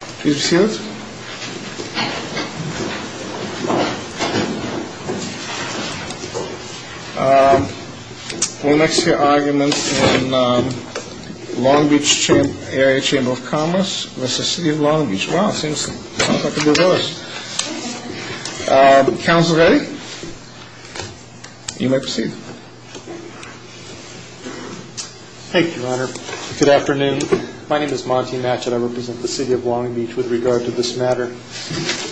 Please be seated. We'll next hear arguments in Long Beach Area Chamber of Commerce v. City of Long Beach. Wow, seems like a good list. Council ready? You may proceed. Thank you, Your Honor. Good afternoon. My name is Monty Matchett. I represent the City of Long Beach with regard to this matter.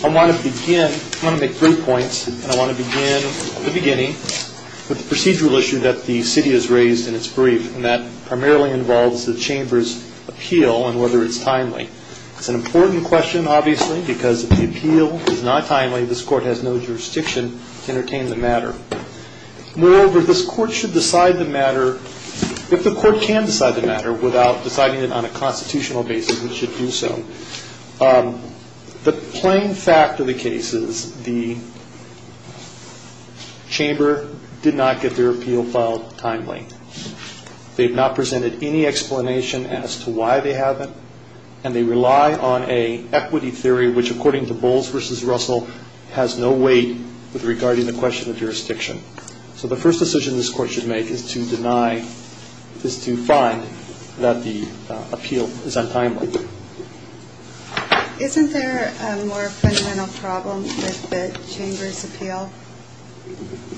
I want to begin, I want to make three points, and I want to begin at the beginning with the procedural issue that the City has raised in its brief, and that primarily involves the Chamber's appeal and whether it's timely. It's an important question, obviously, because if the appeal is not timely, this Court has no jurisdiction to entertain the matter. Moreover, this Court should decide the matter, if the Court can decide the matter, without deciding it on a constitutional basis, it should do so. The plain fact of the case is the Chamber did not get their appeal filed timely. They have not presented any explanation as to why they haven't, and they rely on an equity theory, which according to Bowles v. Russell, has no weight regarding the question of jurisdiction. So the first decision this Court should make is to deny, is to find that the appeal is untimely. Isn't there a more fundamental problem with the Chamber's appeal?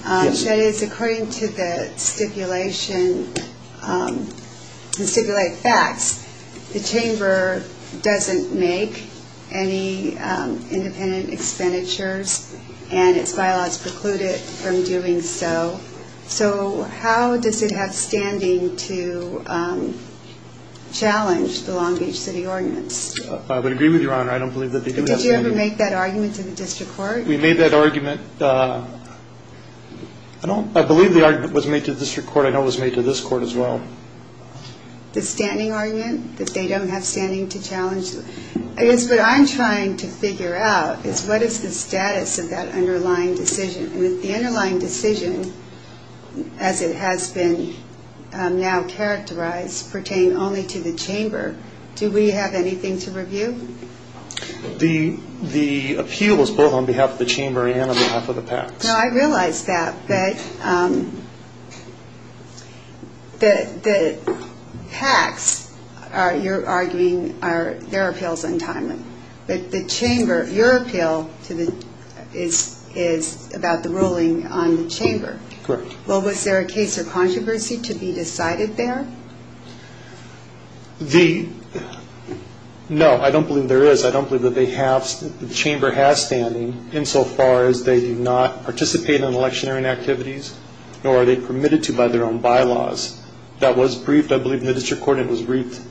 Yes. That is, according to the stipulation, the stipulated facts, the Chamber doesn't make any independent expenditures, and its bylaws preclude it from doing so. So how does it have standing to challenge the Long Beach City Ordinance? I would agree with Your Honor, I don't believe that they do have standing. Did you ever make that argument to the District Court? We made that argument. I believe the argument was made to the District Court, I know it was made to this Court as well. The standing argument, that they don't have standing to challenge? I guess what I'm trying to figure out is what is the status of that underlying decision? The underlying decision, as it has been now characterized, pertained only to the Chamber. Do we have anything to review? The appeal was brought on behalf of the Chamber and on behalf of the PACs. Now, I realize that, but the PACs, you're arguing, their appeal is untimely. But the Chamber, your appeal is about the ruling on the Chamber. Correct. Well, was there a case or controversy to be decided there? No, I don't believe there is. I don't believe that the Chamber has standing insofar as they do not participate in electioneering activities, nor are they permitted to by their own bylaws. That was briefed, I believe, in the District Court, and it was briefed,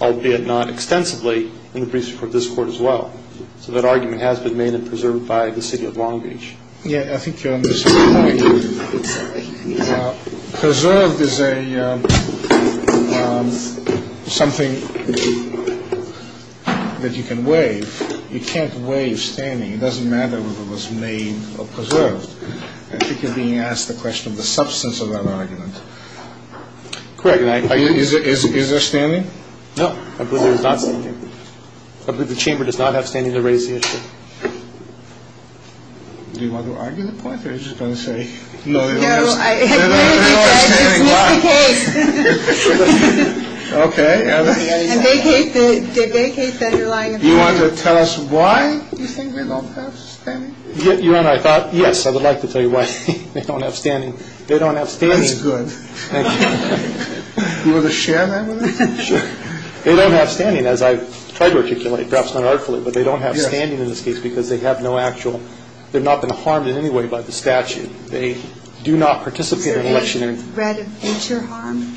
albeit not extensively, in the briefs before this Court as well. So that argument has been made and preserved by the City of Long Beach. Yeah, I think you're on the same point. Preserved is something that you can waive. You can't waive standing. It doesn't matter whether it was made or preserved. I think you're being asked the question of the substance of that argument. Correct. Is there standing? No, I believe there is not standing. I believe the Chamber does not have standing to raise the issue. Do you want to argue the point or are you just going to say no? No, I believe you guys just missed the case. Okay. And they case that you're lying. You want to tell us why you think they don't have standing? Your Honor, I thought, yes, I would like to tell you why they don't have standing. They don't have standing. That's good. Thank you. Do you want to share that with me? Sure. They don't have standing, as I've tried to articulate, perhaps unarticulately, but they don't have standing in this case because they have no actual – they've not been harmed in any way by the statute. They do not participate in electionary – Is there any threat of future harm?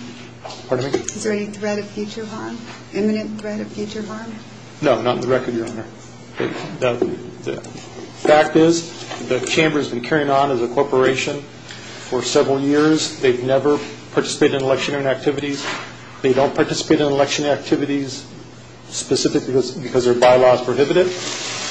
Pardon me? Is there any threat of future harm, imminent threat of future harm? No, not in the record, Your Honor. The fact is the Chamber has been carrying on as a corporation for several years. They've never participated in electionary activities. They don't participate in election activities specifically because their bylaw is prohibited,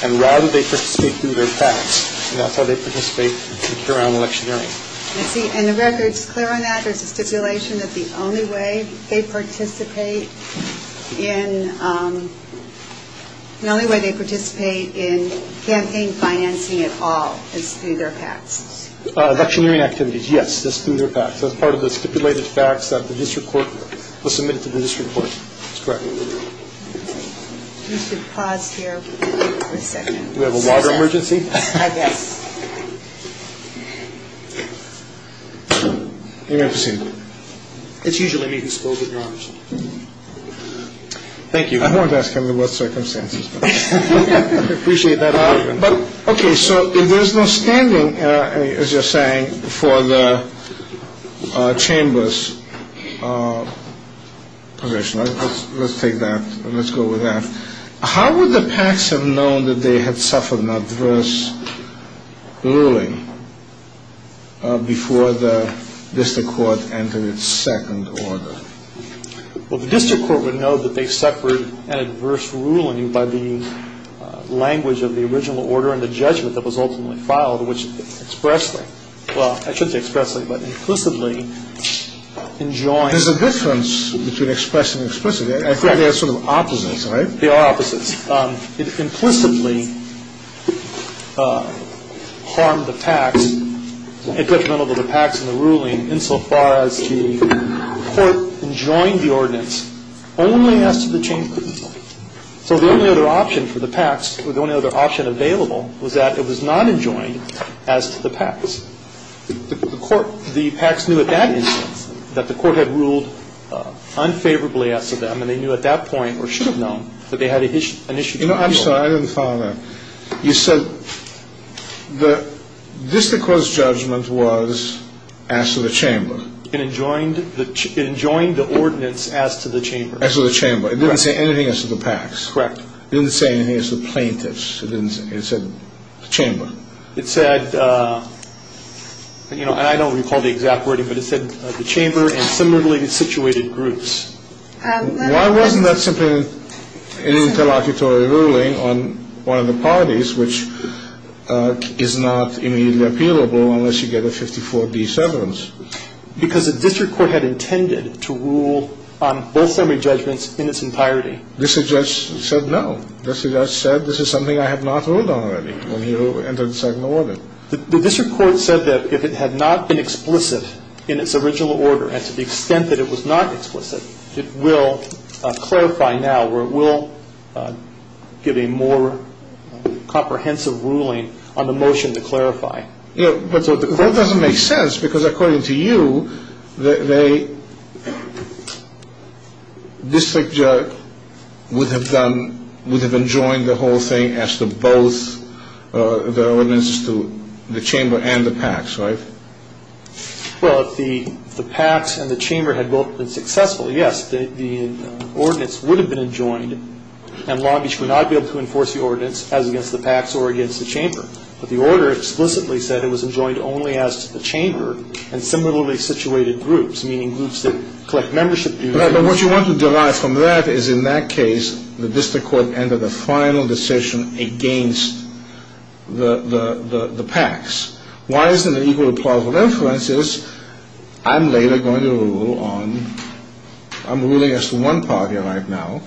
and rather they participate through their facts, and that's how they participate and carry on electioneering. I see. And the record's clear on that? There's a stipulation that the only way they participate in – the only way they participate in campaign financing at all is through their facts? Electioneering activities, yes, is through their facts. That's part of the stipulated facts that the district court will submit to the district court. That's correct. We should pause here for a second. Do we have a water emergency? I guess. You may proceed. It's usually me who's supposed to acknowledge it. Thank you. I wanted to ask him about circumstances, but I appreciate that argument. Okay, so there's no standing, as you're saying, for the Chamber's position. Let's take that. Let's go with that. How would the PACs have known that they had suffered an adverse ruling before the district court entered its second order? Well, the district court would know that they suffered an adverse ruling by the language of the original order and the judgment that was ultimately filed, which expressly – well, I shouldn't say expressly, but implicitly enjoined. There's a difference between express and explicit. I think they're sort of opposites, right? They are opposites. It implicitly harmed the PACs. It detrimental to the PACs and the ruling insofar as the court enjoined the ordinance only as to the Chamber. So the only other option for the PACs, or the only other option available, was that it was not enjoined as to the PACs. But the court – The PACs knew at that instance that the court had ruled unfavorably as to them, and they knew at that point, or should have known, that they had an issue. You know, I'm sorry. I didn't follow that. You said the district court's judgment was as to the Chamber. It enjoined the ordinance as to the Chamber. As to the Chamber. It didn't say anything as to the PACs. Correct. It didn't say anything as to the plaintiffs. It said the Chamber. It said – and I don't recall the exact wording, but it said the Chamber and similarly situated groups. Why wasn't that simply an interlocutory ruling on one of the parties, which is not immediately appealable unless you get a 54-D severance? Because the district court had intended to rule on both summary judgments in its entirety. This judge said no. This judge said this is something I have not ruled on already when you entered the second order. The district court said that if it had not been explicit in its original order, and to the extent that it was not explicit, it will clarify now or it will give a more comprehensive ruling on the motion to clarify. That doesn't make sense because according to you, the district judge would have enjoined the whole thing as to both the ordinances to the Chamber and the PACs, right? Well, if the PACs and the Chamber had both been successful, yes, the ordinance would have been enjoined, and Long Beach would not be able to enforce the ordinance as against the PACs or against the Chamber. But the order explicitly said it was enjoined only as to the Chamber and similarly situated groups, meaning groups that collect membership fees. But what you want to derive from that is in that case, the district court entered a final decision against the PACs. Why isn't it equal to plausible inferences? I'm later going to rule on – I'm ruling as to one party right now.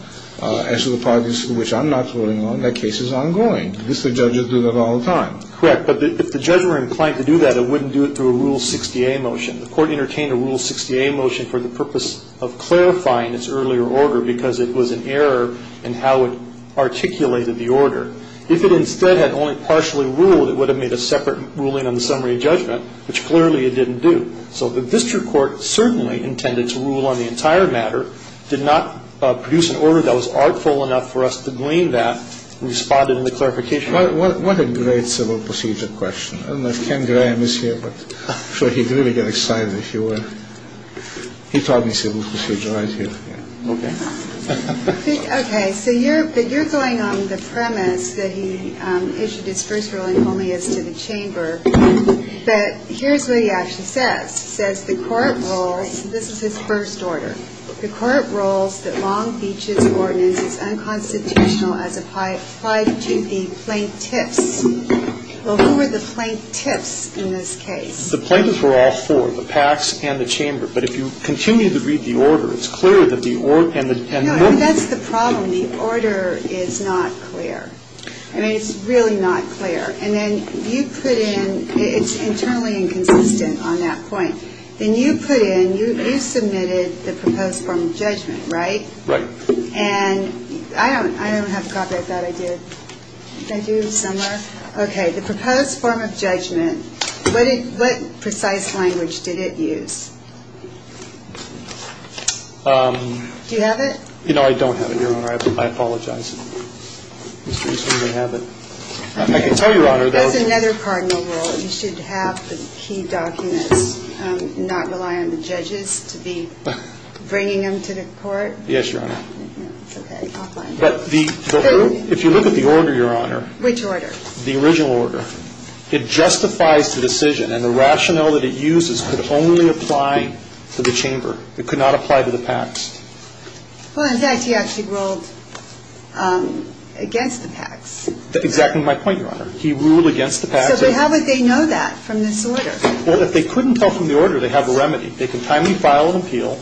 As to the parties which I'm not ruling on, that case is ongoing. At least the judges do that all the time. Correct. But if the judge were inclined to do that, it wouldn't do it through a Rule 60A motion. The court entertained a Rule 60A motion for the purpose of clarifying its earlier order because it was an error in how it articulated the order. If it instead had only partially ruled, it would have made a separate ruling on the summary judgment, which clearly it didn't do. So the district court certainly intended to rule on the entire matter, did not produce an order that was artful enough for us to glean that, responded in the clarification order. What a great civil procedure question. I don't know if Ken Graham is here, but I'm sure he'd really get excited if you were. He taught me civil procedure right here. Okay. Okay. So you're going on the premise that he issued his first ruling only as to the chamber. But here's what he actually says. He says the court rules, this is his first order. The court rules that Long Beach's ordinance is unconstitutional as applied to the plaintiffs. Well, who were the plaintiffs in this case? The plaintiffs were all four, the PACs and the chamber. But if you continue to read the order, it's clear that the order and the 10. That's the problem. The order is not clear. I mean, it's really not clear. And then you put in, it's internally inconsistent on that point. Then you put in, you submitted the proposed form of judgment, right? Right. And I don't have a copy. I thought I did. Thank you, Summer. Okay. The proposed form of judgment, what precise language did it use? Do you have it? No, I don't have it, Your Honor. I apologize. I can tell you, Your Honor. That's another cardinal rule. You should have the key documents, not rely on the judges to be bringing them to the court. Yes, Your Honor. It's okay. I'll find it. If you look at the order, Your Honor. Which order? The original order. It justifies the decision. And the rationale that it uses could only apply to the chamber. It could not apply to the PACs. Well, in fact, he actually ruled against the PACs. Exactly my point, Your Honor. He ruled against the PACs. So how would they know that from this order? Well, if they couldn't tell from the order, they have a remedy. They can timely file an appeal,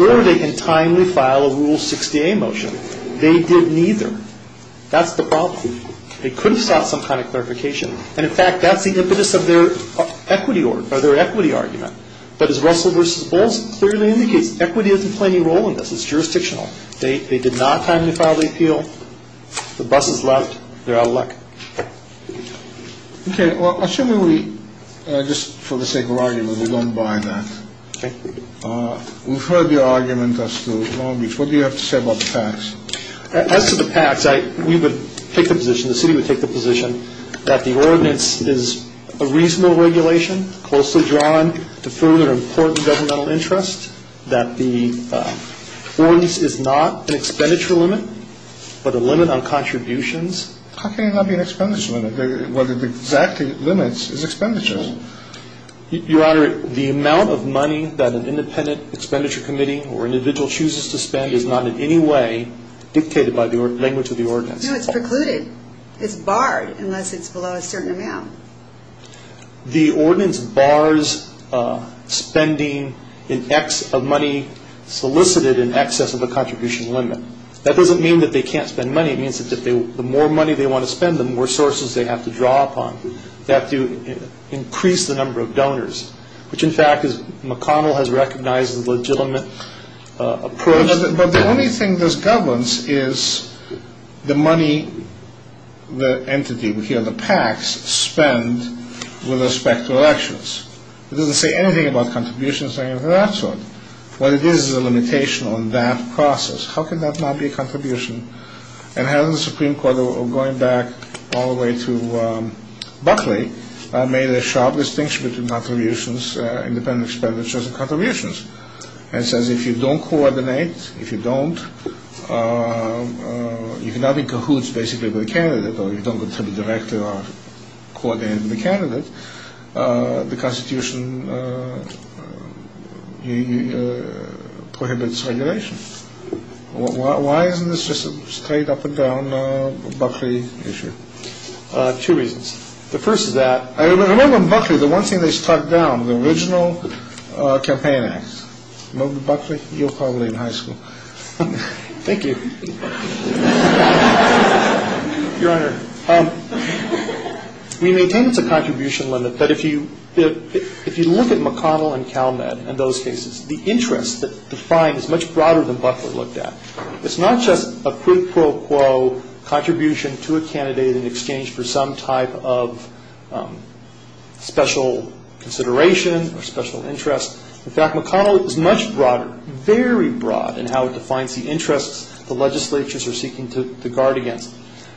or they can timely file a Rule 60A motion. They did neither. That's the problem. They could have sought some kind of clarification. And, in fact, that's the impetus of their equity argument. But as Russell v. Bowles clearly indicates, equity doesn't play any role in this. It's jurisdictional. They did not timely file the appeal. The bus is left. They're out of luck. Okay. Well, assuming we, just for the sake of argument, we don't buy that. Okay. We've heard your argument as to what do you have to say about the PACs. As to the PACs, we would take the position, the city would take the position, that the ordinance is a reasonable regulation, closely drawn to further important governmental interest, that the ordinance is not an expenditure limit, but a limit on contributions. How can it not be an expenditure limit? The exact limits is expenditures. Your Honor, the amount of money that an independent expenditure committee or an individual chooses to spend is not in any way dictated by the language of the ordinance. No, it's precluded. It's barred unless it's below a certain amount. The ordinance bars spending of money solicited in excess of a contribution limit. That doesn't mean that they can't spend money. It means that the more money they want to spend, the more sources they have to draw upon. They have to increase the number of donors, which, in fact, McConnell has recognized as a legitimate approach. But the only thing that governs is the money the entity, the PACs, spend with respect to elections. It doesn't say anything about contributions or anything of that sort. What it is is a limitation on that process. How can that not be a contribution? And hasn't the Supreme Court, going back all the way to Buckley, made a sharp distinction between contributions, independent expenditures, and contributions? It says if you don't coordinate, if you don't, if nothing cahoots basically with the candidate or you don't go to the director or coordinate with the candidate, the Constitution prohibits regulation. Why isn't this just a straight up and down Buckley issue? Two reasons. The first is that we maintain it's a contribution limit, but if you look at McConnell and Cal Med in those cases, the interest defined is much broader than Buckley looked at. It's not just a quid pro quo contribution to a candidate in exchange for some type of special consideration or special interest. In fact, McConnell is much broader, very broad in how it defines the interests the legislatures are seeking to guard against.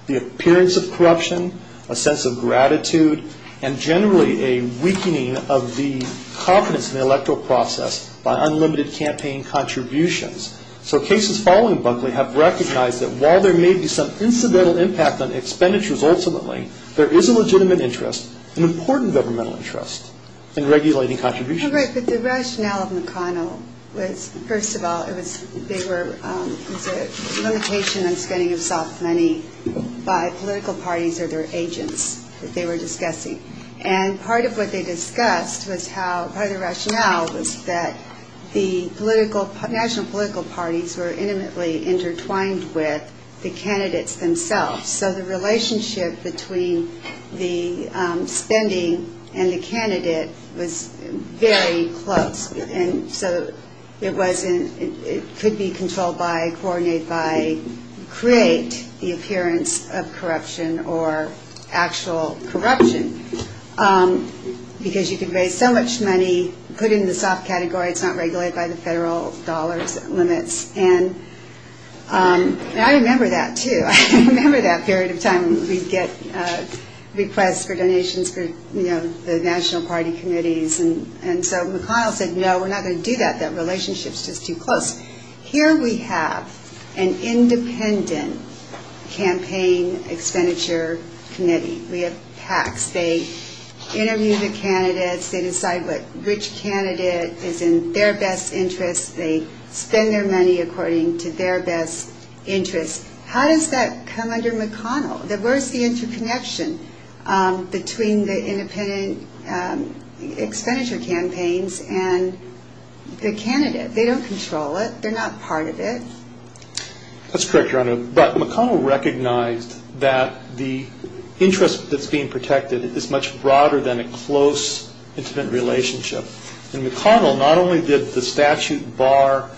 The appearance of corruption, a sense of gratitude, and generally a weakening of the confidence in the electoral process by unlimited campaign contributions. So cases following Buckley have recognized that while there may be some incidental impact on expenditures ultimately, there is a legitimate interest, an important governmental interest in regulating contributions. But the rationale of McConnell was, first of all, it was a limitation on spending of soft money by political parties or their agents that they were discussing. And part of what they discussed was how, part of the rationale was that the national political parties were intimately intertwined with the candidates themselves. So the relationship between the spending and the candidate was very close. And so it wasn't, it could be controlled by, coordinated by, create the appearance of corruption or actual corruption. Because you can raise so much money, put it in the soft category, it's not regulated by the federal dollars limits. And I remember that, too. I remember that period of time when we'd get requests for donations for, you know, the national party committees. And so McConnell said, no, we're not going to do that. That relationship's just too close. Here we have an independent campaign expenditure committee. We have PACs. They interview the candidates. They decide which candidate is in their best interest. They spend their money according to their best interest. How does that come under McConnell? Where's the interconnection between the independent expenditure campaigns and the candidate? They don't control it. That's correct, Your Honor. But McConnell recognized that the interest that's being protected is much broader than a close, intimate relationship. And McConnell not only did the statute bar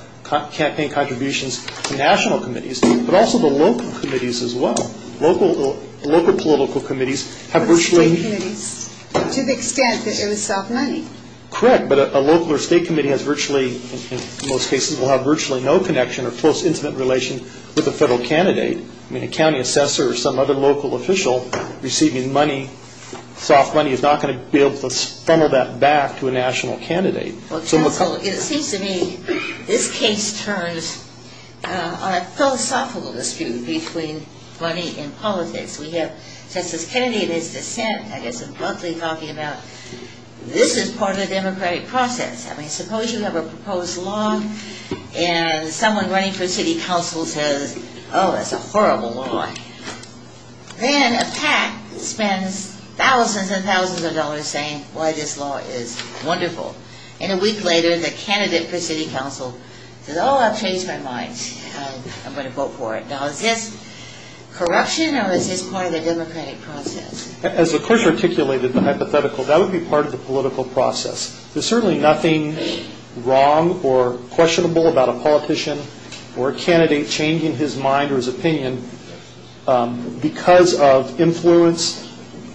campaign contributions to national committees, but also the local committees as well. Local political committees have virtually. To the extent that it was soft money. Correct, but a local or state committee has virtually, in most cases, will have virtually no connection or close intimate relation with a federal candidate. I mean, a county assessor or some other local official receiving money, soft money is not going to be able to funnel that back to a national candidate. Counsel, it seems to me this case turns on a philosophical dispute between money and politics. We have Justice Kennedy in his dissent, I guess, abruptly talking about this is part of the democratic process. I mean, suppose you have a proposed law and someone running for city council says, oh, that's a horrible law. Then a PAC spends thousands and thousands of dollars saying, boy, this law is wonderful. And a week later, the candidate for city council says, oh, I've changed my mind. I'm going to vote for it. Now, is this corruption or is this part of the democratic process? As the court articulated the hypothetical, that would be part of the political process. There's certainly nothing wrong or questionable about a politician or a candidate changing his mind or his opinion because of influence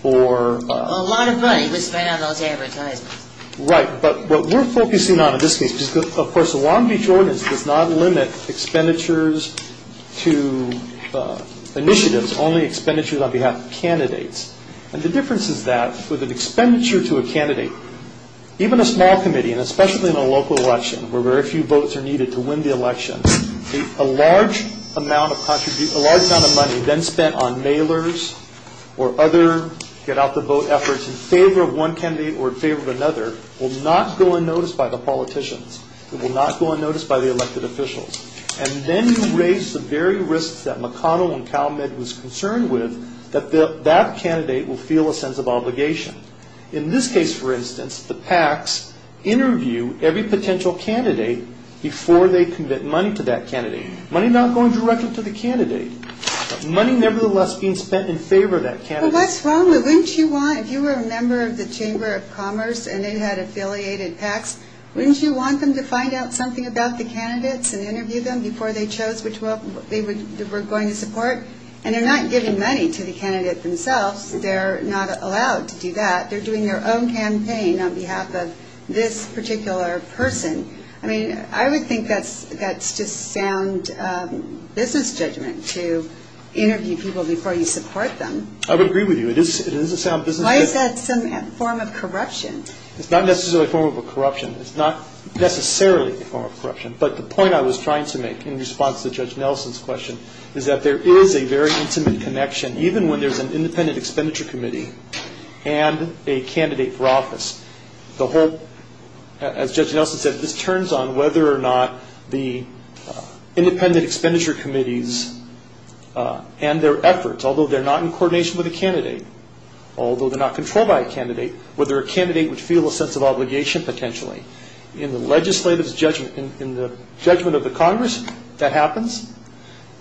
or... A lot of money was spent on those advertisements. Right. But what we're focusing on in this case, because, of course, the Long Beach ordinance does not limit expenditures to initiatives, only expenditures on behalf of candidates. And the difference is that with an expenditure to a candidate, even a small committee, and especially in a local election where very few votes are needed to win the election, a large amount of money then spent on mailers or other get-out-the-vote efforts in favor of one candidate or in favor of another will not go unnoticed by the politicians. It will not go unnoticed by the elected officials. And then you raise the very risks that McConnell and Calumet was concerned with that that candidate will feel a sense of obligation. In this case, for instance, the PACs interview every potential candidate before they commit money to that candidate. Money not going directly to the candidate, but money nevertheless being spent in favor of that candidate. Well, that's wrong. If you were a member of the Chamber of Commerce and they had affiliated PACs, wouldn't you want them to find out something about the candidates and interview them before they chose which one they were going to support? And they're not giving money to the candidate themselves. They're not allowed to do that. They're doing their own campaign on behalf of this particular person. I mean, I would think that's just sound business judgment to interview people before you support them. I would agree with you. It is a sound business judgment. Why is that some form of corruption? It's not necessarily a form of corruption. It's not necessarily a form of corruption. But the point I was trying to make in response to Judge Nelson's question is that there is a very intimate connection, even when there's an independent expenditure committee and a candidate for office. As Judge Nelson said, this turns on whether or not the independent expenditure committees and their efforts, although they're not in coordination with a candidate, although they're not controlled by a candidate, whether a candidate would feel a sense of obligation potentially. In the legislative judgment, in the judgment of the Congress, that happens.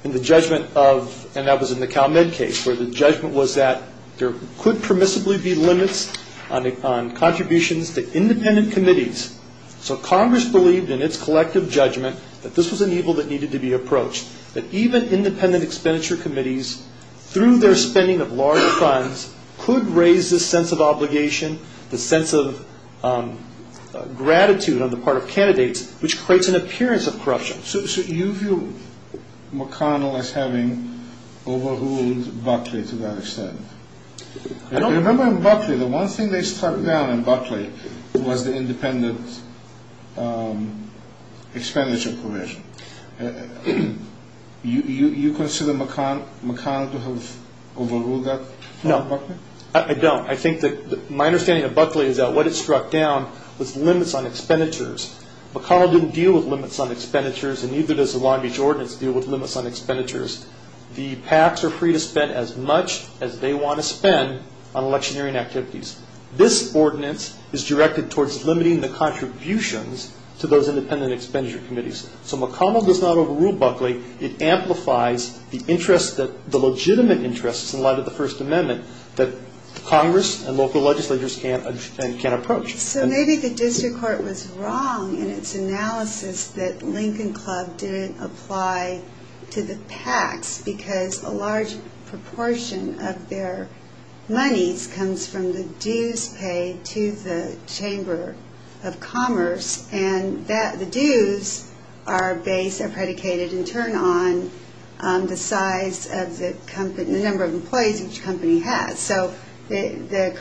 In the judgment of, and that was in the Cal Med case, where the judgment was that there could permissibly be limits on contributions to independent committees. So Congress believed in its collective judgment that this was an evil that needed to be approached, that even independent expenditure committees, through their spending of large funds, could raise this sense of obligation, the sense of gratitude on the part of candidates, which creates an appearance of corruption. So you view McConnell as having overruled Buckley to that extent? I don't. Remember in Buckley, the one thing they struck down in Buckley was the independent expenditure commission. You consider McConnell to have overruled that? No. I don't. My understanding of Buckley is that what it struck down was limits on expenditures. McConnell didn't deal with limits on expenditures, and neither does the Long Beach Ordinance deal with limits on expenditures. The PACs are free to spend as much as they want to spend on electioneering activities. This ordinance is directed towards limiting the contributions to those independent expenditure committees. So McConnell does not overrule Buckley. It amplifies the legitimate interests in light of the First Amendment that Congress and local legislators can't approach. So maybe the district court was wrong in its analysis that Lincoln Club didn't apply to the PACs because a large proportion of their monies comes from the dues paid to the Chamber of Commerce, and the dues are based, are predicated, and turn on the size of the number of employees each company has. So the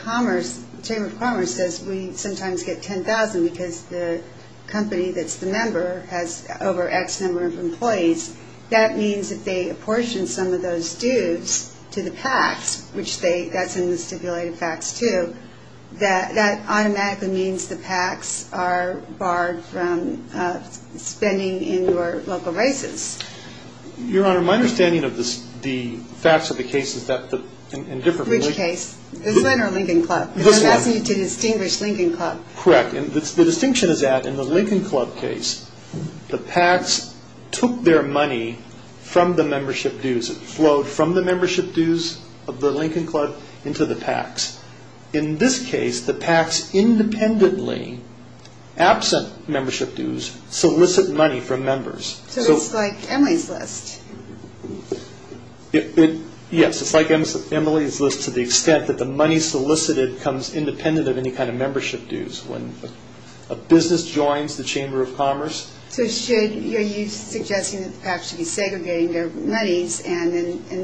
Chamber of Commerce says we sometimes get 10,000 because the company that's the member has over X number of employees. That means if they apportion some of those dues to the PACs, which that's in the stipulated facts too, that that automatically means the PACs are barred from spending in your local races. Your Honor, my understanding of the facts of the case is that the Which case? This one or Lincoln Club? This one. Because I'm asking you to distinguish Lincoln Club. Correct, and the distinction is that in the Lincoln Club case, the PACs took their money from the membership dues. It flowed from the membership dues of the Lincoln Club into the PACs. In this case, the PACs independently, absent membership dues, solicit money from members. So it's like Emily's List. Yes, it's like Emily's List to the extent that the money solicited comes independent of any kind of membership dues. When a business joins the Chamber of Commerce. So are you suggesting that the PACs should be segregating their monies and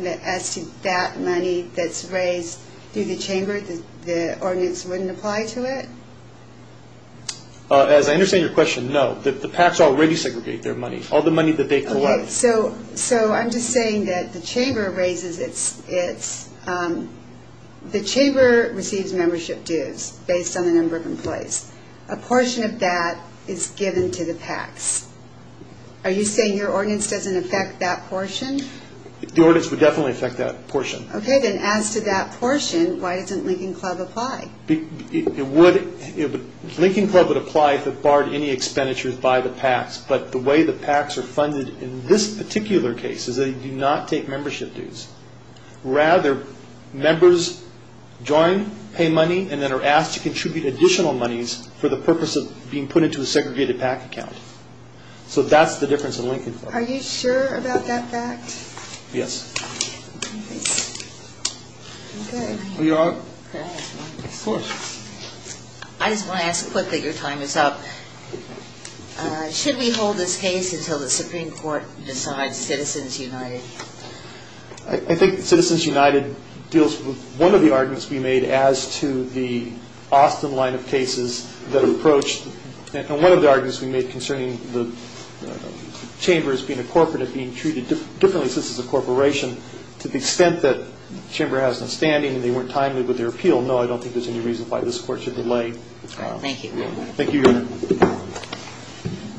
as to that money that's raised through the Chamber, the ordinance wouldn't apply to it? As I understand your question, no. The PACs already segregate their money, all the money that they collect. Okay, so I'm just saying that the Chamber raises its, the Chamber receives membership dues based on the number of employees. A portion of that is given to the PACs. Are you saying your ordinance doesn't affect that portion? The ordinance would definitely affect that portion. Okay, then as to that portion, why doesn't Lincoln Club apply? It would. Lincoln Club would apply if it barred any expenditures by the PACs. But the way the PACs are funded in this particular case is they do not take membership dues. Rather, members join, pay money, and then are asked to contribute additional monies for the purpose of being put into a segregated PAC account. So that's the difference in Lincoln Club. Are you sure about that fact? Yes. Okay. Are you all right? Yes. Of course. I just want to ask quickly, your time is up. Should we hold this case until the Supreme Court decides Citizens United? I think Citizens United deals with one of the arguments we made as to the Austin line of cases that approach, and one of the arguments we made concerning the chamber as being a corporate and being treated differently since it's a corporation to the extent that the chamber has an outstanding and they weren't timely with their appeal. No, I don't think there's any reason why this court should delay. Thank you, Your Honor. Thank you, Your Honor.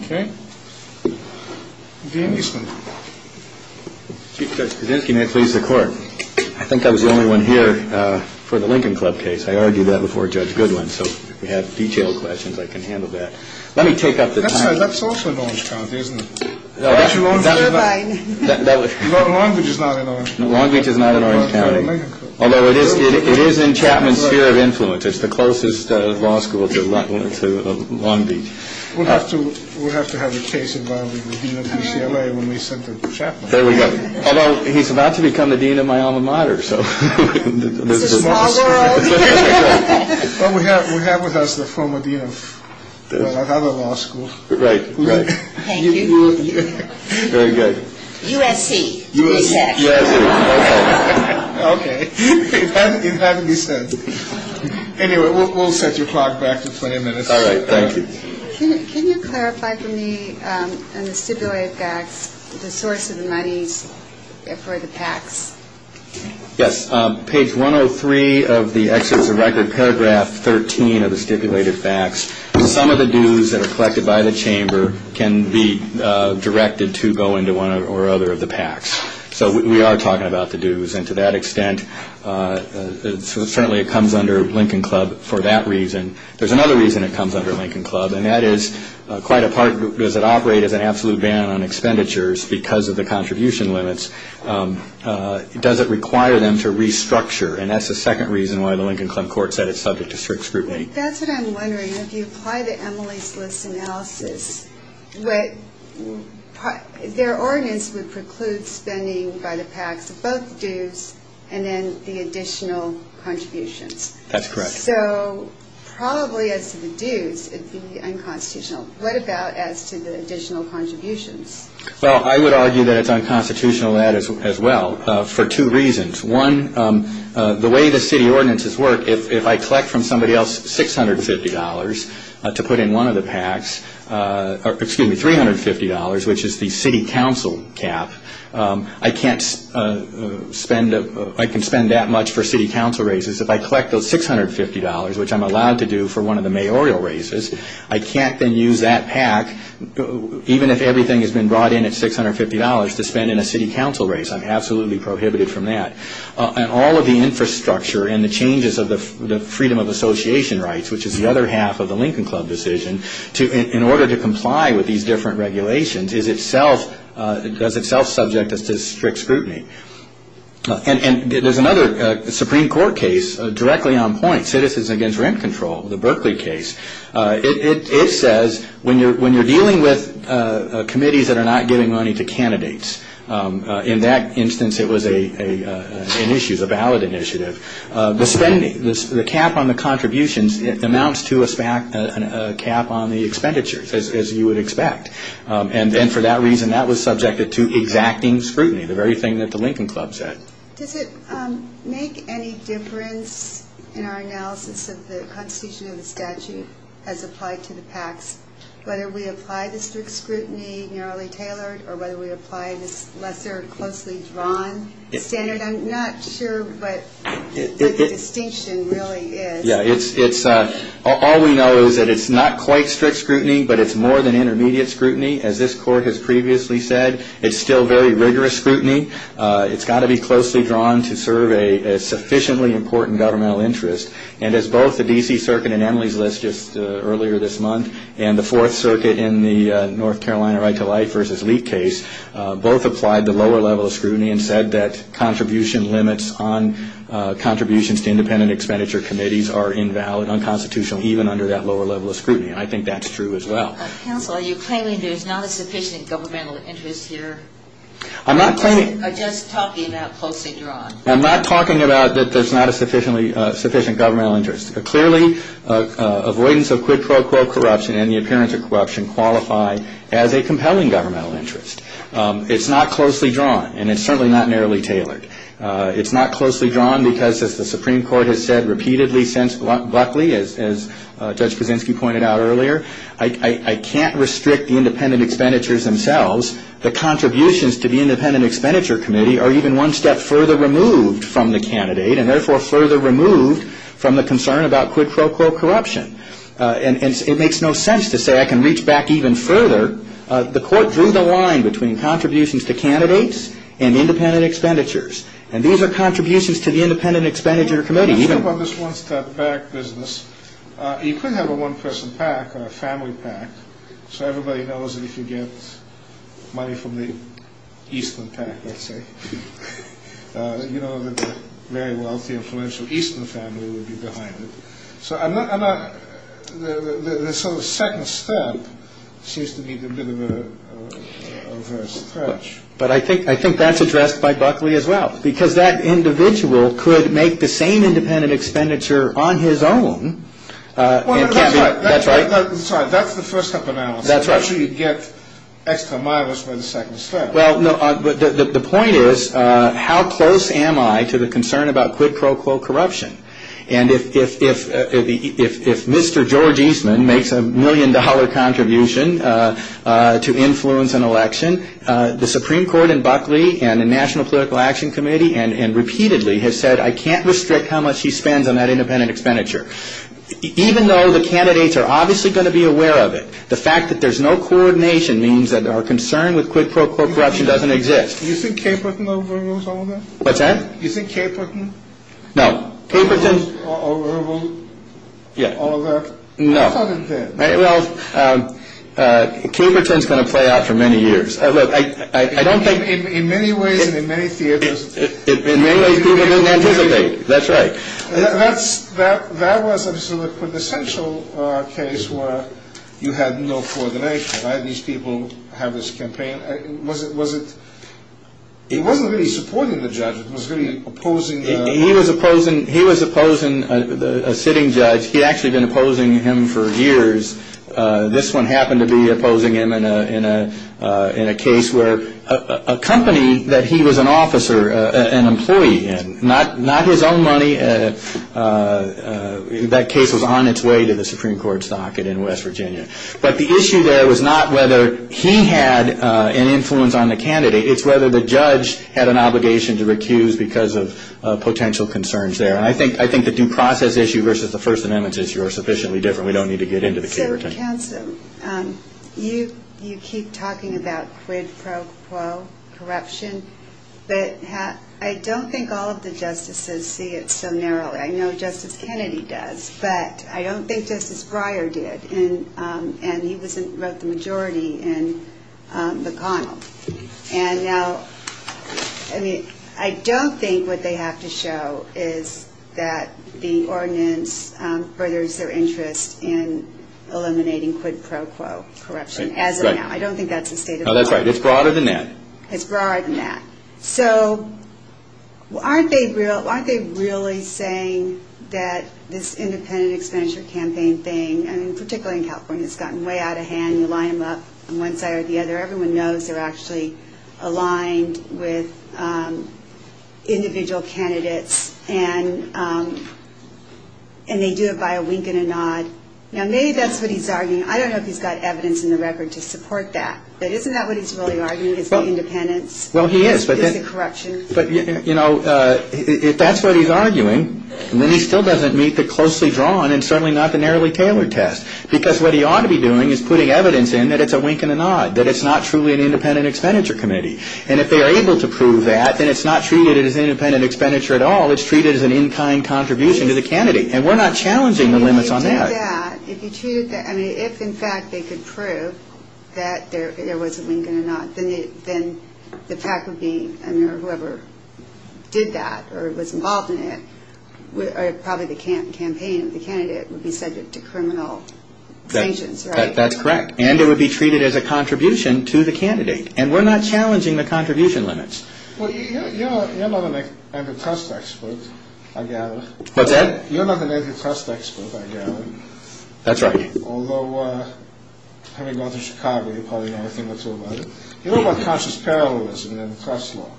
Okay. The amusement. Chief Judge Kudzinski, may it please the Court. I think I was the only one here for the Lincoln Club case. I argued that before Judge Goodwin, so if you have detailed questions, I can handle that. Let me take up the time. That's also in Orange County, isn't it? No, that's Long Beach. Long Beach is not in Orange County. Long Beach is not in Orange County. Although it is in Chapman's sphere of influence. It's the closest law school to Long Beach. We'll have to have a case involving the dean of UCLA when we send it to Chapman. There we go. Although he's about to become the dean of my alma mater. It's a small world. We have with us the former dean of another law school. Right. Thank you. Very good. USC. USC. Okay. It had to be said. Anyway, we'll set your clock back to 20 minutes. All right. Thank you. Can you clarify for me in the stipulated facts the source of the monies for the PACs? Yes. Page 103 of the Executive Record, paragraph 13 of the stipulated facts, some of the dues that are collected by the chamber can be directed to go into one or other of the PACs. So we are talking about the dues. And to that extent, certainly it comes under Lincoln Club for that reason. There's another reason it comes under Lincoln Club, and that is quite a part. Does it operate as an absolute ban on expenditures because of the contribution limits? Does it require them to restructure? And that's the second reason why the Lincoln Club court said it's subject to strict scrutiny. That's what I'm wondering. If you apply the EMILY's List analysis, their ordinance would preclude spending by the PACs of both dues and then the additional contributions. That's correct. So probably as to the dues, it would be unconstitutional. What about as to the additional contributions? Well, I would argue that it's unconstitutional as well for two reasons. One, the way the city ordinances work, if I collect from somebody else $650 to put in one of the PACs, or excuse me, $350, which is the city council cap, I can't spend, I can spend that much for city council raises. If I collect those $650, which I'm allowed to do for one of the mayoral raises, I can't then use that PAC, even if everything has been brought in at $650, to spend in a city council raise. I'm absolutely prohibited from that. And all of the infrastructure and the changes of the freedom of association rights, which is the other half of the Lincoln Club decision, in order to comply with these different regulations, is itself subject to strict scrutiny. And there's another Supreme Court case directly on point, Citizens Against Rent Control, the Berkeley case. It says when you're dealing with committees that are not giving money to candidates, in that instance it was an issue, it was a ballot initiative, the cap on the contributions amounts to a cap on the expenditures, as you would expect. And then for that reason, that was subjected to exacting scrutiny, the very thing that the Lincoln Club said. Does it make any difference in our analysis of the constitution and the statute as applied to the PACs, whether we apply the strict scrutiny, narrowly tailored, or whether we apply this lesser, closely drawn standard? I'm not sure what the distinction really is. Yeah, all we know is that it's not quite strict scrutiny, but it's more than intermediate scrutiny. As this court has previously said, it's still very rigorous scrutiny. It's got to be closely drawn to serve a sufficiently important governmental interest. And as both the D.C. Circuit and Emily's List just earlier this month, and the Fourth Circuit in the North Carolina Right to Life v. Leak case, both applied the lower level of scrutiny and said that contribution limits on contributions to independent expenditure committees are invalid, unconstitutional, even under that lower level of scrutiny. And I think that's true as well. Counsel, are you claiming there's not a sufficient governmental interest here? I'm not claiming... I'm just talking about closely drawn. I'm not talking about that there's not a sufficient governmental interest. Clearly, avoidance of quid pro quo corruption and the appearance of corruption qualify as a compelling governmental interest. It's not closely drawn, and it's certainly not narrowly tailored. It's not closely drawn because, as the Supreme Court has said repeatedly since Buckley, as Judge Kuczynski pointed out earlier, I can't restrict the independent expenditures themselves. The contributions to the independent expenditure committee are even one step further removed from the candidate and therefore further removed from the concern about quid pro quo corruption. And it makes no sense to say I can reach back even further. The Court drew the line between contributions to candidates and independent expenditures. And these are contributions to the independent expenditure committee. Let me ask you about this one-step back business. You could have a one-person PAC or a family PAC. So everybody knows that if you get money from the Eastman PAC, let's say, you know that the very wealthy, influential Eastman family would be behind it. So I'm not... The sort of second step seems to be a bit of a stretch. But I think that's addressed by Buckley as well because that individual could make the same independent expenditure on his own. Well, that's right. That's right. Sorry, that's the first step analysis. That's right. I'm not sure you'd get extra miles by the second step. Well, the point is how close am I to the concern about quid pro quo corruption? And if Mr. George Eastman makes a million-dollar contribution to influence an election, the Supreme Court and Buckley and the National Political Action Committee and repeatedly have said I can't restrict how much he spends on that independent expenditure. Even though the candidates are obviously going to be aware of it, the fact that there's no coordination means that our concern with quid pro quo corruption doesn't exist. Do you think Caperton overrules all of that? What's that? Do you think Caperton... No. ...overrules all of that? No. I thought it did. Well, Caperton is going to play out for many years. Look, I don't think... In many ways and in many theaters... In many ways people didn't anticipate. That's right. That was an essential case where you had no coordination. Why did these people have this campaign? Was it... It wasn't really supporting the judge. It was really opposing... He was opposing a sitting judge. He had actually been opposing him for years. This one happened to be opposing him in a case where a company that he was an officer, an employee in, not his own money, that case was on its way to the Supreme Court's docket in West Virginia. But the issue there was not whether he had an influence on the candidate. It's whether the judge had an obligation to recuse because of potential concerns there. I think the due process issue versus the First Amendment issue are sufficiently different. We don't need to get into the Caperton. So, counsel, you keep talking about quid pro quo corruption, but I don't think all of the justices see it so narrowly. I know Justice Kennedy does, but I don't think Justice Breyer did. And he wrote the majority in McConnell. And now, I mean, I don't think what they have to show is that the ordinance furthers their interest in eliminating quid pro quo corruption as of now. I don't think that's the state of the law. No, that's right. It's broader than that. It's broader than that. So, aren't they really saying that this independent expenditure campaign thing, and particularly in California, it's gotten way out of hand. You line them up on one side or the other. Everyone knows they're actually aligned with individual candidates, and they do it by a wink and a nod. Now, maybe that's what he's arguing. I don't know if he's got evidence in the record to support that. But isn't that what he's really arguing, is the independence? Well, he is. Is it corruption? But, you know, if that's what he's arguing, then he still doesn't meet the closely drawn and certainly not the narrowly tailored test, because what he ought to be doing is putting evidence in that it's a wink and a nod, that it's not truly an independent expenditure committee. And if they are able to prove that, then it's not treated as independent expenditure at all. It's treated as an in-kind contribution to the candidate. And we're not challenging the limits on that. If you did that, if you treated that, I mean, if, in fact, they could prove that there was a wink and a nod, then the faculty or whoever did that or was involved in it, probably the campaign of the candidate would be subject to criminal sanctions, right? That's correct. And it would be treated as a contribution to the candidate. And we're not challenging the contribution limits. Well, you're not an antitrust expert, I gather. What's that? You're not an antitrust expert, I gather. That's right. Although, having gone through Chicago, you probably know a thing or two about it. You know about conscious parallelism in the trust law?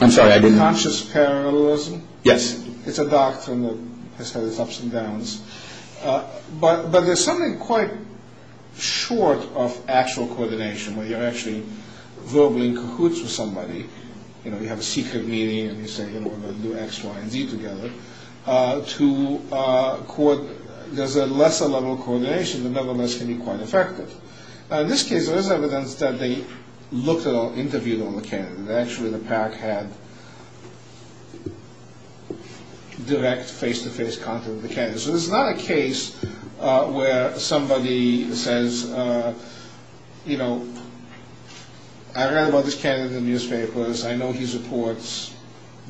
I'm sorry, I didn't. Conscious parallelism? Yes. It's a doctrine that has had its ups and downs. But there's something quite short of actual coordination, where you're actually verbally in cahoots with somebody. You know, you have a secret meeting and you say, you know, we're going to do X, Y, and Z together. There's a lesser level of coordination that nevertheless can be quite effective. In this case, there is evidence that they looked at or interviewed on the candidate. Actually, the PAC had direct face-to-face contact with the candidate. So this is not a case where somebody says, you know, I read about this candidate in the newspapers. I know he supports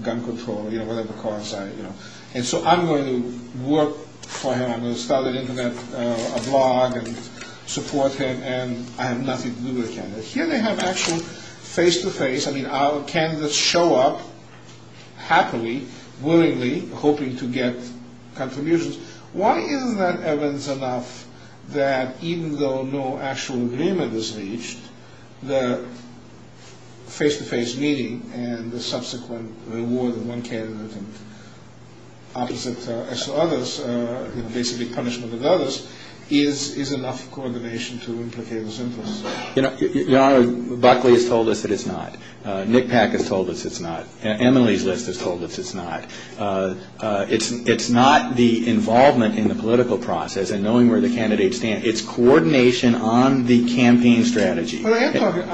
gun control, you know, whatever cause. And so I'm going to work for him. I'm going to start an Internet blog and support him, and I have nothing to do with the candidate. Here they have actual face-to-face. I mean, our candidates show up happily, willingly, hoping to get contributions. Why isn't that evidence enough that even though no actual agreement is reached, the face-to-face meeting and the subsequent reward of one candidate and opposite X to others, basically punishment of others, is enough coordination to implicate this interest? Your Honor, Buckley has told us that it's not. NCPAC has told us it's not. EMILY's List has told us it's not. It's not the involvement in the political process and knowing where the candidates stand. It's coordination on the campaign strategy. But I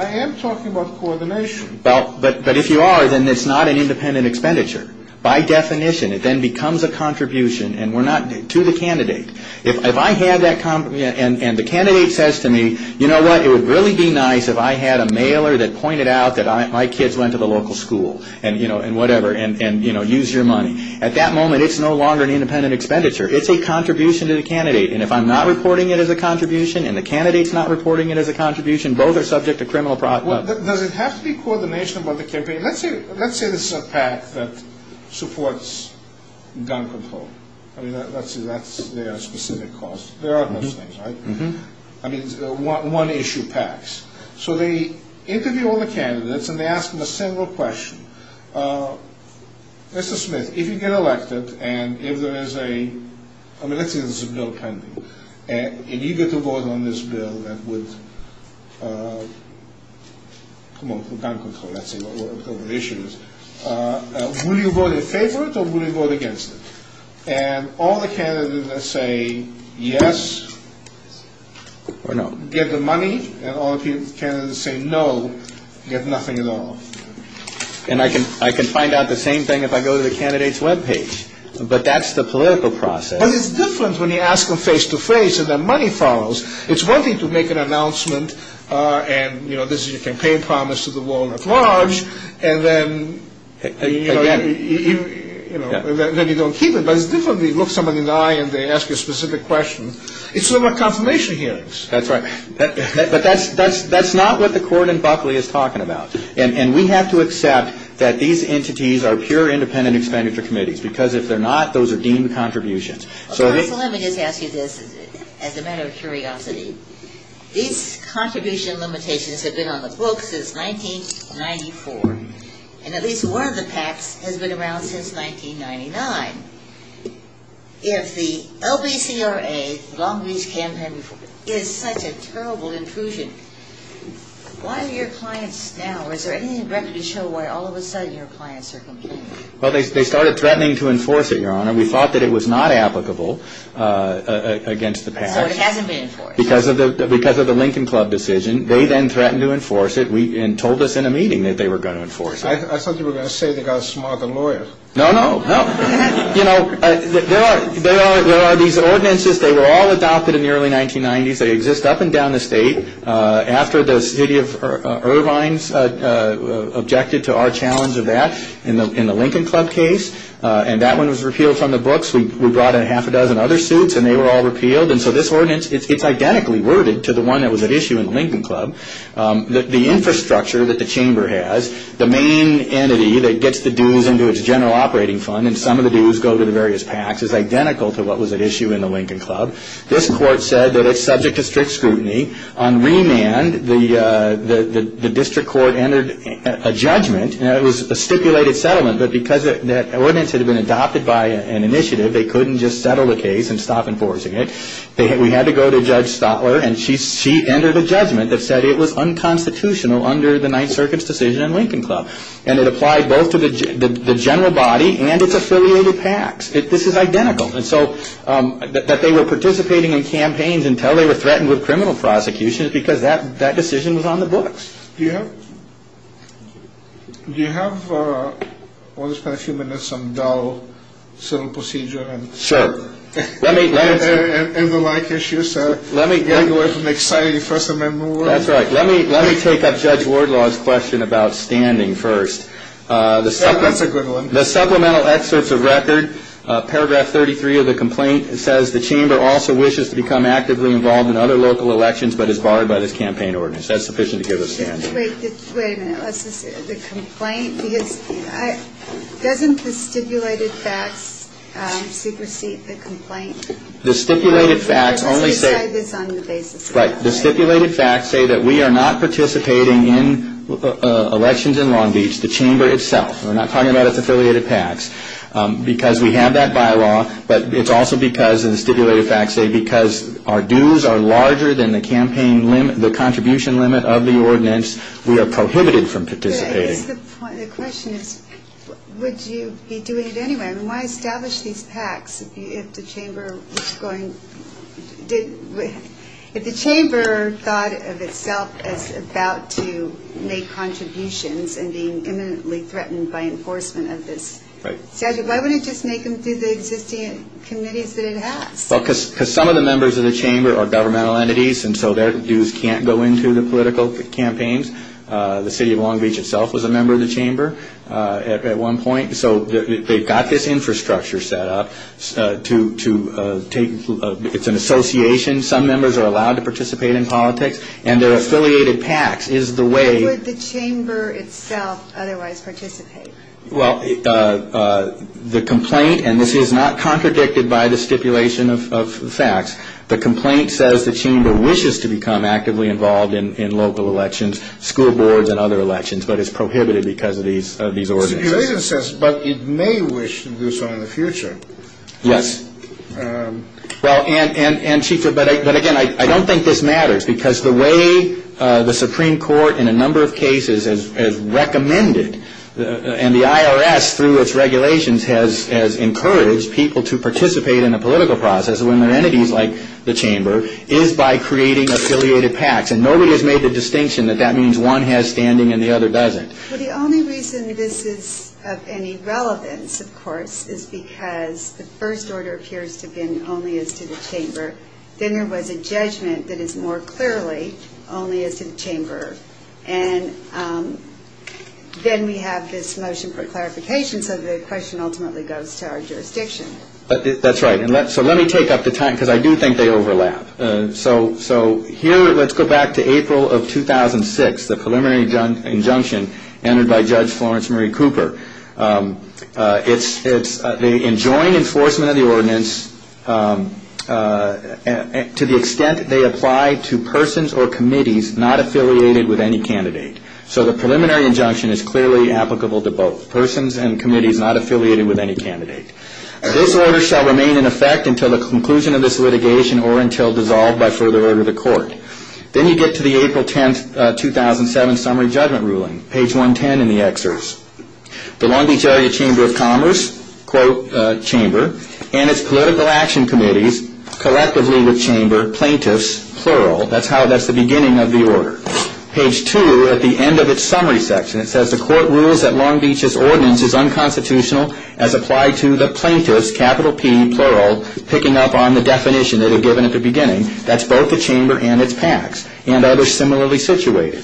am talking about coordination. But if you are, then it's not an independent expenditure. By definition, it then becomes a contribution to the candidate. If I had that, and the candidate says to me, you know what, it would really be nice if I had a mailer that pointed out that my kids went to the local school, and, you know, whatever, and, you know, use your money. At that moment, it's no longer an independent expenditure. It's a contribution to the candidate. And if I'm not reporting it as a contribution and the candidate's not reporting it as a contribution, both are subject to criminal prosecution. Does it have to be coordination about the campaign? Let's say this is a PAC that supports gun control. I mean, let's say that's their specific cause. There are those things, right? I mean, one issue PACs. So they interview all the candidates, and they ask them a simple question. Mr. Smith, if you get elected, and if there is a, I mean, let's say there's a bill pending, and you get to vote on this bill that would, come on, for gun control, let's say, whatever the issue is, will you vote in favor of it or will you vote against it? And all the candidates that say yes get the money, and all the candidates that say no get nothing at all. And I can find out the same thing if I go to the candidate's web page. But that's the political process. But it's different when you ask them face-to-face and their money follows. It's one thing to make an announcement, and, you know, this is your campaign promise to the world at large, and then, you know, then you don't keep it. But it's different if you look somebody in the eye and they ask you a specific question. It's sort of like confirmation hearings. That's right. But that's not what the court in Buckley is talking about. And we have to accept that these entities are pure independent expenditure committees, because if they're not, those are deemed contributions. Counsel, let me just ask you this as a matter of curiosity. These contribution limitations have been on the books since 1994, and at least one of the PACs has been around since 1999. If the LBCRA long-reach campaign is such a terrible intrusion, why are your clients now, is there anything you'd like to show why all of a sudden your clients are complaining? Well, they started threatening to enforce it, Your Honor. We thought that it was not applicable against the PACs. So it hasn't been enforced. Because of the Lincoln Club decision, they then threatened to enforce it and told us in a meeting that they were going to enforce it. I thought you were going to say they got a smarter lawyer. No, no, no. You know, there are these ordinances. They were all adopted in the early 1990s. They exist up and down the state. After the city of Irvine objected to our challenge of that in the Lincoln Club case, and they were all repealed, and so this ordinance, it's identically worded to the one that was at issue in the Lincoln Club. The infrastructure that the chamber has, the main entity that gets the dues into its general operating fund, and some of the dues go to the various PACs, is identical to what was at issue in the Lincoln Club. This court said that it's subject to strict scrutiny. On remand, the district court entered a judgment, and it was a stipulated settlement, but because that ordinance had been adopted by an initiative, they couldn't just settle the case and stop enforcing it. We had to go to Judge Stotler, and she entered a judgment that said it was unconstitutional under the Ninth Circuit's decision in Lincoln Club, and it applied both to the general body and its affiliated PACs. This is identical. And so that they were participating in campaigns until they were threatened with criminal prosecution is because that decision was on the books. Do you have, let's spend a few minutes, some dull civil procedure? Sure. And the like issue, sir. Let me get away from the exciting First Amendment. That's right. Let me take up Judge Wardlaw's question about standing first. That's a good one. The supplemental excerpts of record, paragraph 33 of the complaint, it says the chamber also wishes to become actively involved in other local elections, but is barred by this campaign ordinance. That's sufficient to give us standing. Wait a minute. The complaint, doesn't the stipulated facts supersede the complaint? The stipulated facts only say. Let's decide this on the basis of the complaint. Right. The stipulated facts say that we are not participating in elections in Long Beach, the chamber itself. We're not talking about its affiliated PACs. Because we have that bylaw, but it's also because the stipulated facts say that because our dues are larger than the contribution limit of the ordinance, we are prohibited from participating. The question is, would you be doing it anyway? Why establish these PACs if the chamber thought of itself as about to make contributions and being imminently threatened by enforcement of this statute? Why wouldn't it just make them through the existing committees that it has? Because some of the members of the chamber are governmental entities, and so their dues can't go into the political campaigns. The city of Long Beach itself was a member of the chamber at one point, so they've got this infrastructure set up. It's an association. Some members are allowed to participate in politics, and their affiliated PACs is the way. Why would the chamber itself otherwise participate? Well, the complaint, and this is not contradicted by the stipulation of facts, the complaint says the chamber wishes to become actively involved in local elections, school boards and other elections, but it's prohibited because of these ordinances. But it may wish to do so in the future. Yes. Well, and, Chief, but again, I don't think this matters, because the way the Supreme Court in a number of cases has recommended and the IRS through its regulations has encouraged people to participate in a political process when their entities like the chamber is by creating affiliated PACs, and nobody has made the distinction that that means one has standing and the other doesn't. Well, the only reason this is of any relevance, of course, is because the first order appears to have been only as to the chamber. Then there was a judgment that is more clearly only as to the chamber. And then we have this motion for clarification, so the question ultimately goes to our jurisdiction. That's right. So let me take up the time, because I do think they overlap. So here, let's go back to April of 2006, the preliminary injunction entered by Judge Florence Marie Cooper. It's the enjoined enforcement of the ordinance to the extent they apply to persons or committees not affiliated with any candidate. So the preliminary injunction is clearly applicable to both persons and committees not affiliated with any candidate. This order shall remain in effect until the conclusion of this litigation or until dissolved by further order of the court. Then you get to the April 10, 2007, summary judgment ruling, page 110 in the excerpts. The Long Beach Area Chamber of Commerce, quote, chamber, and its political action committees collectively with chamber, plaintiffs, plural. That's how that's the beginning of the order. Page two, at the end of its summary section, it says, the court rules that Long Beach's ordinance is unconstitutional as applied to the plaintiffs, capital P, plural, picking up on the definition they had given at the beginning. That's both the chamber and its PACs and others similarly situated.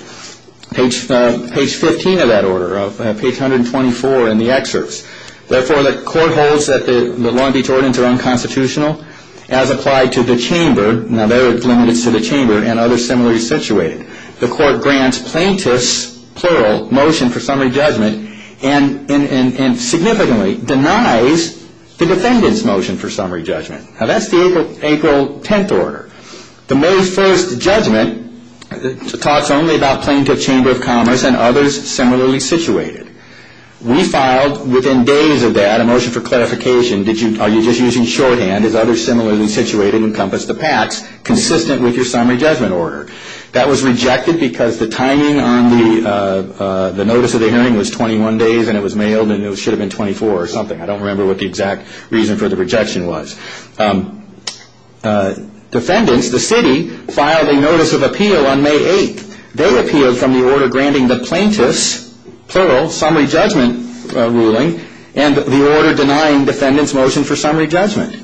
Page 15 of that order, page 124 in the excerpts. Therefore, the court holds that the Long Beach ordinance are unconstitutional as applied to the chamber. Now, they're limited to the chamber and others similarly situated. The court grants plaintiffs, plural, motion for summary judgment and significantly denies the defendant's motion for summary judgment. Now, that's the April 10 order. The May 1 judgment talks only about plaintiff chamber of commerce and others similarly situated. We filed within days of that a motion for clarification. Are you just using shorthand? Is others similarly situated encompass the PACs consistent with your summary judgment order? That was rejected because the timing on the notice of the hearing was 21 days and it was mailed and it should have been 24 or something. I don't remember what the exact reason for the rejection was. Defendants, the city, filed a notice of appeal on May 8. They appealed from the order granting the plaintiffs, plural, summary judgment ruling and the order denying defendants motion for summary judgment.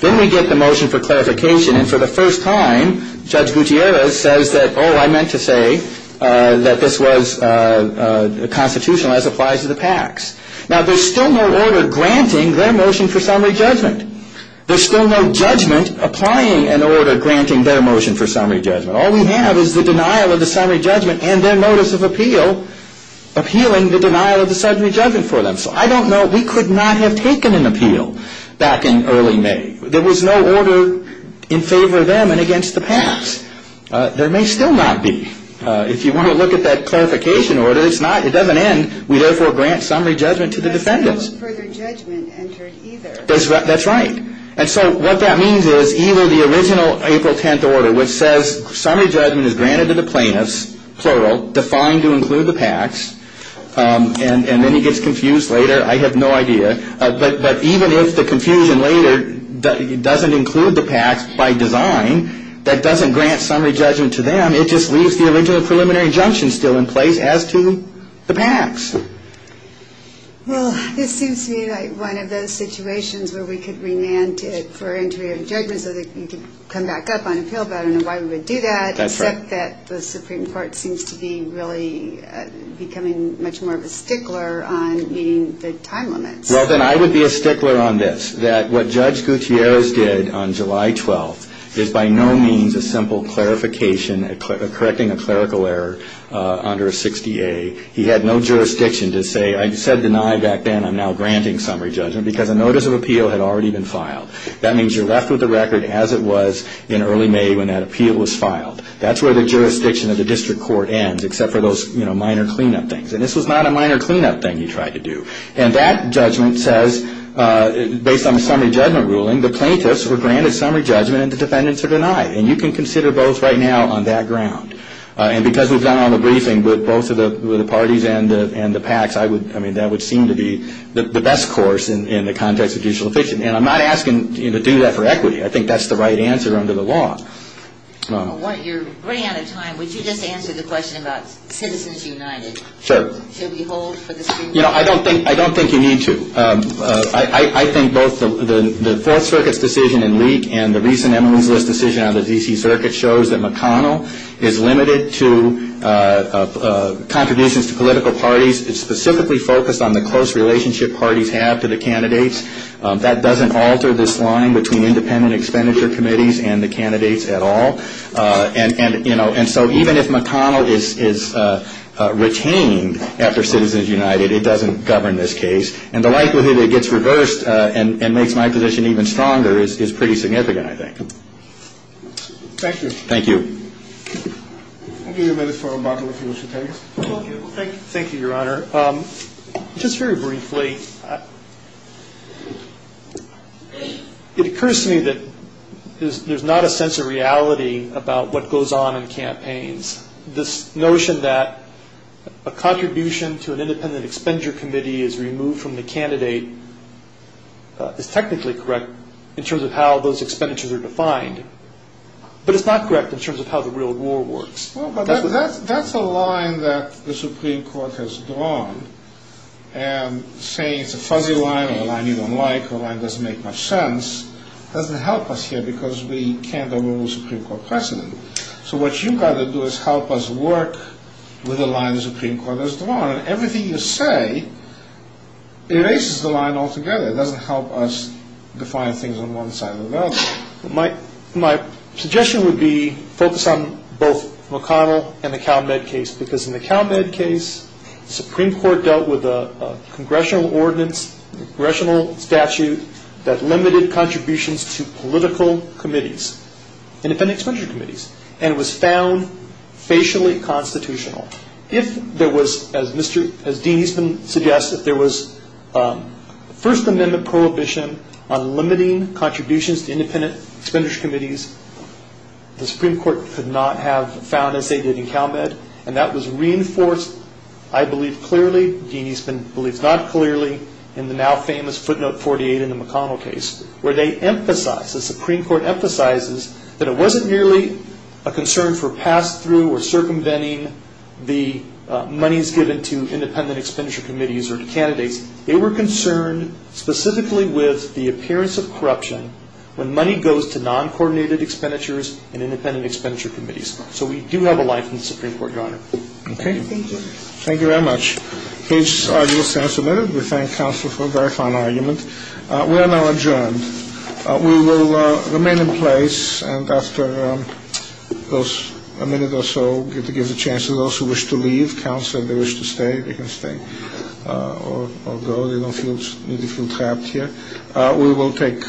Then we get the motion for clarification and for the first time, Judge Gutierrez says that, oh, I meant to say that this was constitutional as applies to the PACs. Now, there's still no order granting their motion for summary judgment. There's still no judgment applying an order granting their motion for summary judgment. All we have is the denial of the summary judgment and their notice of appeal appealing the denial of the summary judgment for them. So I don't know. We could not have taken an appeal back in early May. There was no order in favor of them and against the PACs. There may still not be. If you want to look at that clarification order, it's not. It doesn't end. We therefore grant summary judgment to the defendants. There's no further judgment entered either. That's right. And so what that means is even the original April 10th order, which says summary judgment is granted to the plaintiffs, plural, defined to include the PACs, and then he gets confused later. I have no idea. But even if the confusion later doesn't include the PACs by design, that doesn't grant summary judgment to them. It just leaves the original preliminary injunction still in place as to the PACs. Well, this seems to me like one of those situations where we could remand for entry of judgment so that you could come back up on appeal. But I don't know why we would do that. That's right. Except that the Supreme Court seems to be really becoming much more of a stickler on meeting the time limits. Well, then I would be a stickler on this, that what Judge Gutierrez did on July 12th is by no means a simple clarification, correcting a clerical error under a 60A. He had no jurisdiction to say, I said deny back then, I'm now granting summary judgment, because a notice of appeal had already been filed. That means you're left with the record as it was in early May when that appeal was filed. That's where the jurisdiction of the district court ends, except for those minor cleanup things. And this was not a minor cleanup thing he tried to do. And that judgment says, based on the summary judgment ruling, the plaintiffs were granted summary judgment and the defendants are denied. And you can consider both right now on that ground. And because we've done all the briefing with both of the parties and the PACs, I mean, that would seem to be the best course in the context of judicial efficiency. And I'm not asking you to do that for equity. I think that's the right answer under the law. Well, you're running out of time. Would you just answer the question about Citizens United? Sure. Should we hold for the Supreme Court? You know, I don't think you need to. I think both the Fourth Circuit's decision in Leak and the recent Emmylou's List decision on the D.C. Circuit shows that McConnell is limited to contributions to political parties. It's specifically focused on the close relationship parties have to the candidates. That doesn't alter this line between independent expenditure committees and the candidates at all. And so even if McConnell is retained after Citizens United, it doesn't govern this case. And the likelihood it gets reversed and makes my position even stronger is pretty significant, I think. Thank you. Thank you. I'll give you a minute for a bottle if you wish to take it. Thank you, Your Honor. Just very briefly, it occurs to me that there's not a sense of reality about what goes on in campaigns. This notion that a contribution to an independent expenditure committee is removed from the candidate is technically correct in terms of how those expenditures are defined, but it's not correct in terms of how the real war works. Well, but that's a line that the Supreme Court has drawn. And saying it's a fuzzy line or a line you don't like or a line that doesn't make much sense doesn't help us here because we can't overrule the Supreme Court precedent. So what you've got to do is help us work with the line the Supreme Court has drawn. And everything you say erases the line altogether. It doesn't help us define things on one side or the other. My suggestion would be focus on both McConnell and the Cal Med case because in the Cal Med case, the Supreme Court dealt with a congressional ordinance, a congressional statute that limited contributions to political committees, independent expenditure committees, and it was found facially constitutional. If there was, as Dean Eastman suggests, if there was a First Amendment prohibition on limiting contributions to independent expenditure committees, the Supreme Court could not have found as they did in Cal Med. And that was reinforced, I believe, clearly. Dean Eastman believes not clearly in the now famous footnote 48 in the McConnell case where they emphasize, the Supreme Court emphasizes, that it wasn't merely a concern for pass-through or circumventing the monies given to independent expenditure committees or to candidates. They were concerned specifically with the appearance of corruption when money goes to non-coordinated expenditures and independent expenditure committees. Okay? Thank you. Thank you very much. This argument stands admitted. We thank counsel for a very fine argument. We are now adjourned. We will remain in place and after a minute or so, we'll give the chance to those who wish to leave. Counsel, if they wish to stay, they can stay or go. They don't need to feel trapped here. We will take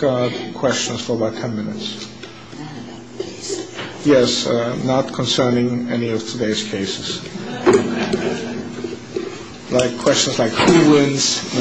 questions for about ten minutes. Yes, not concerning any of today's cases. Questions like who wins? No.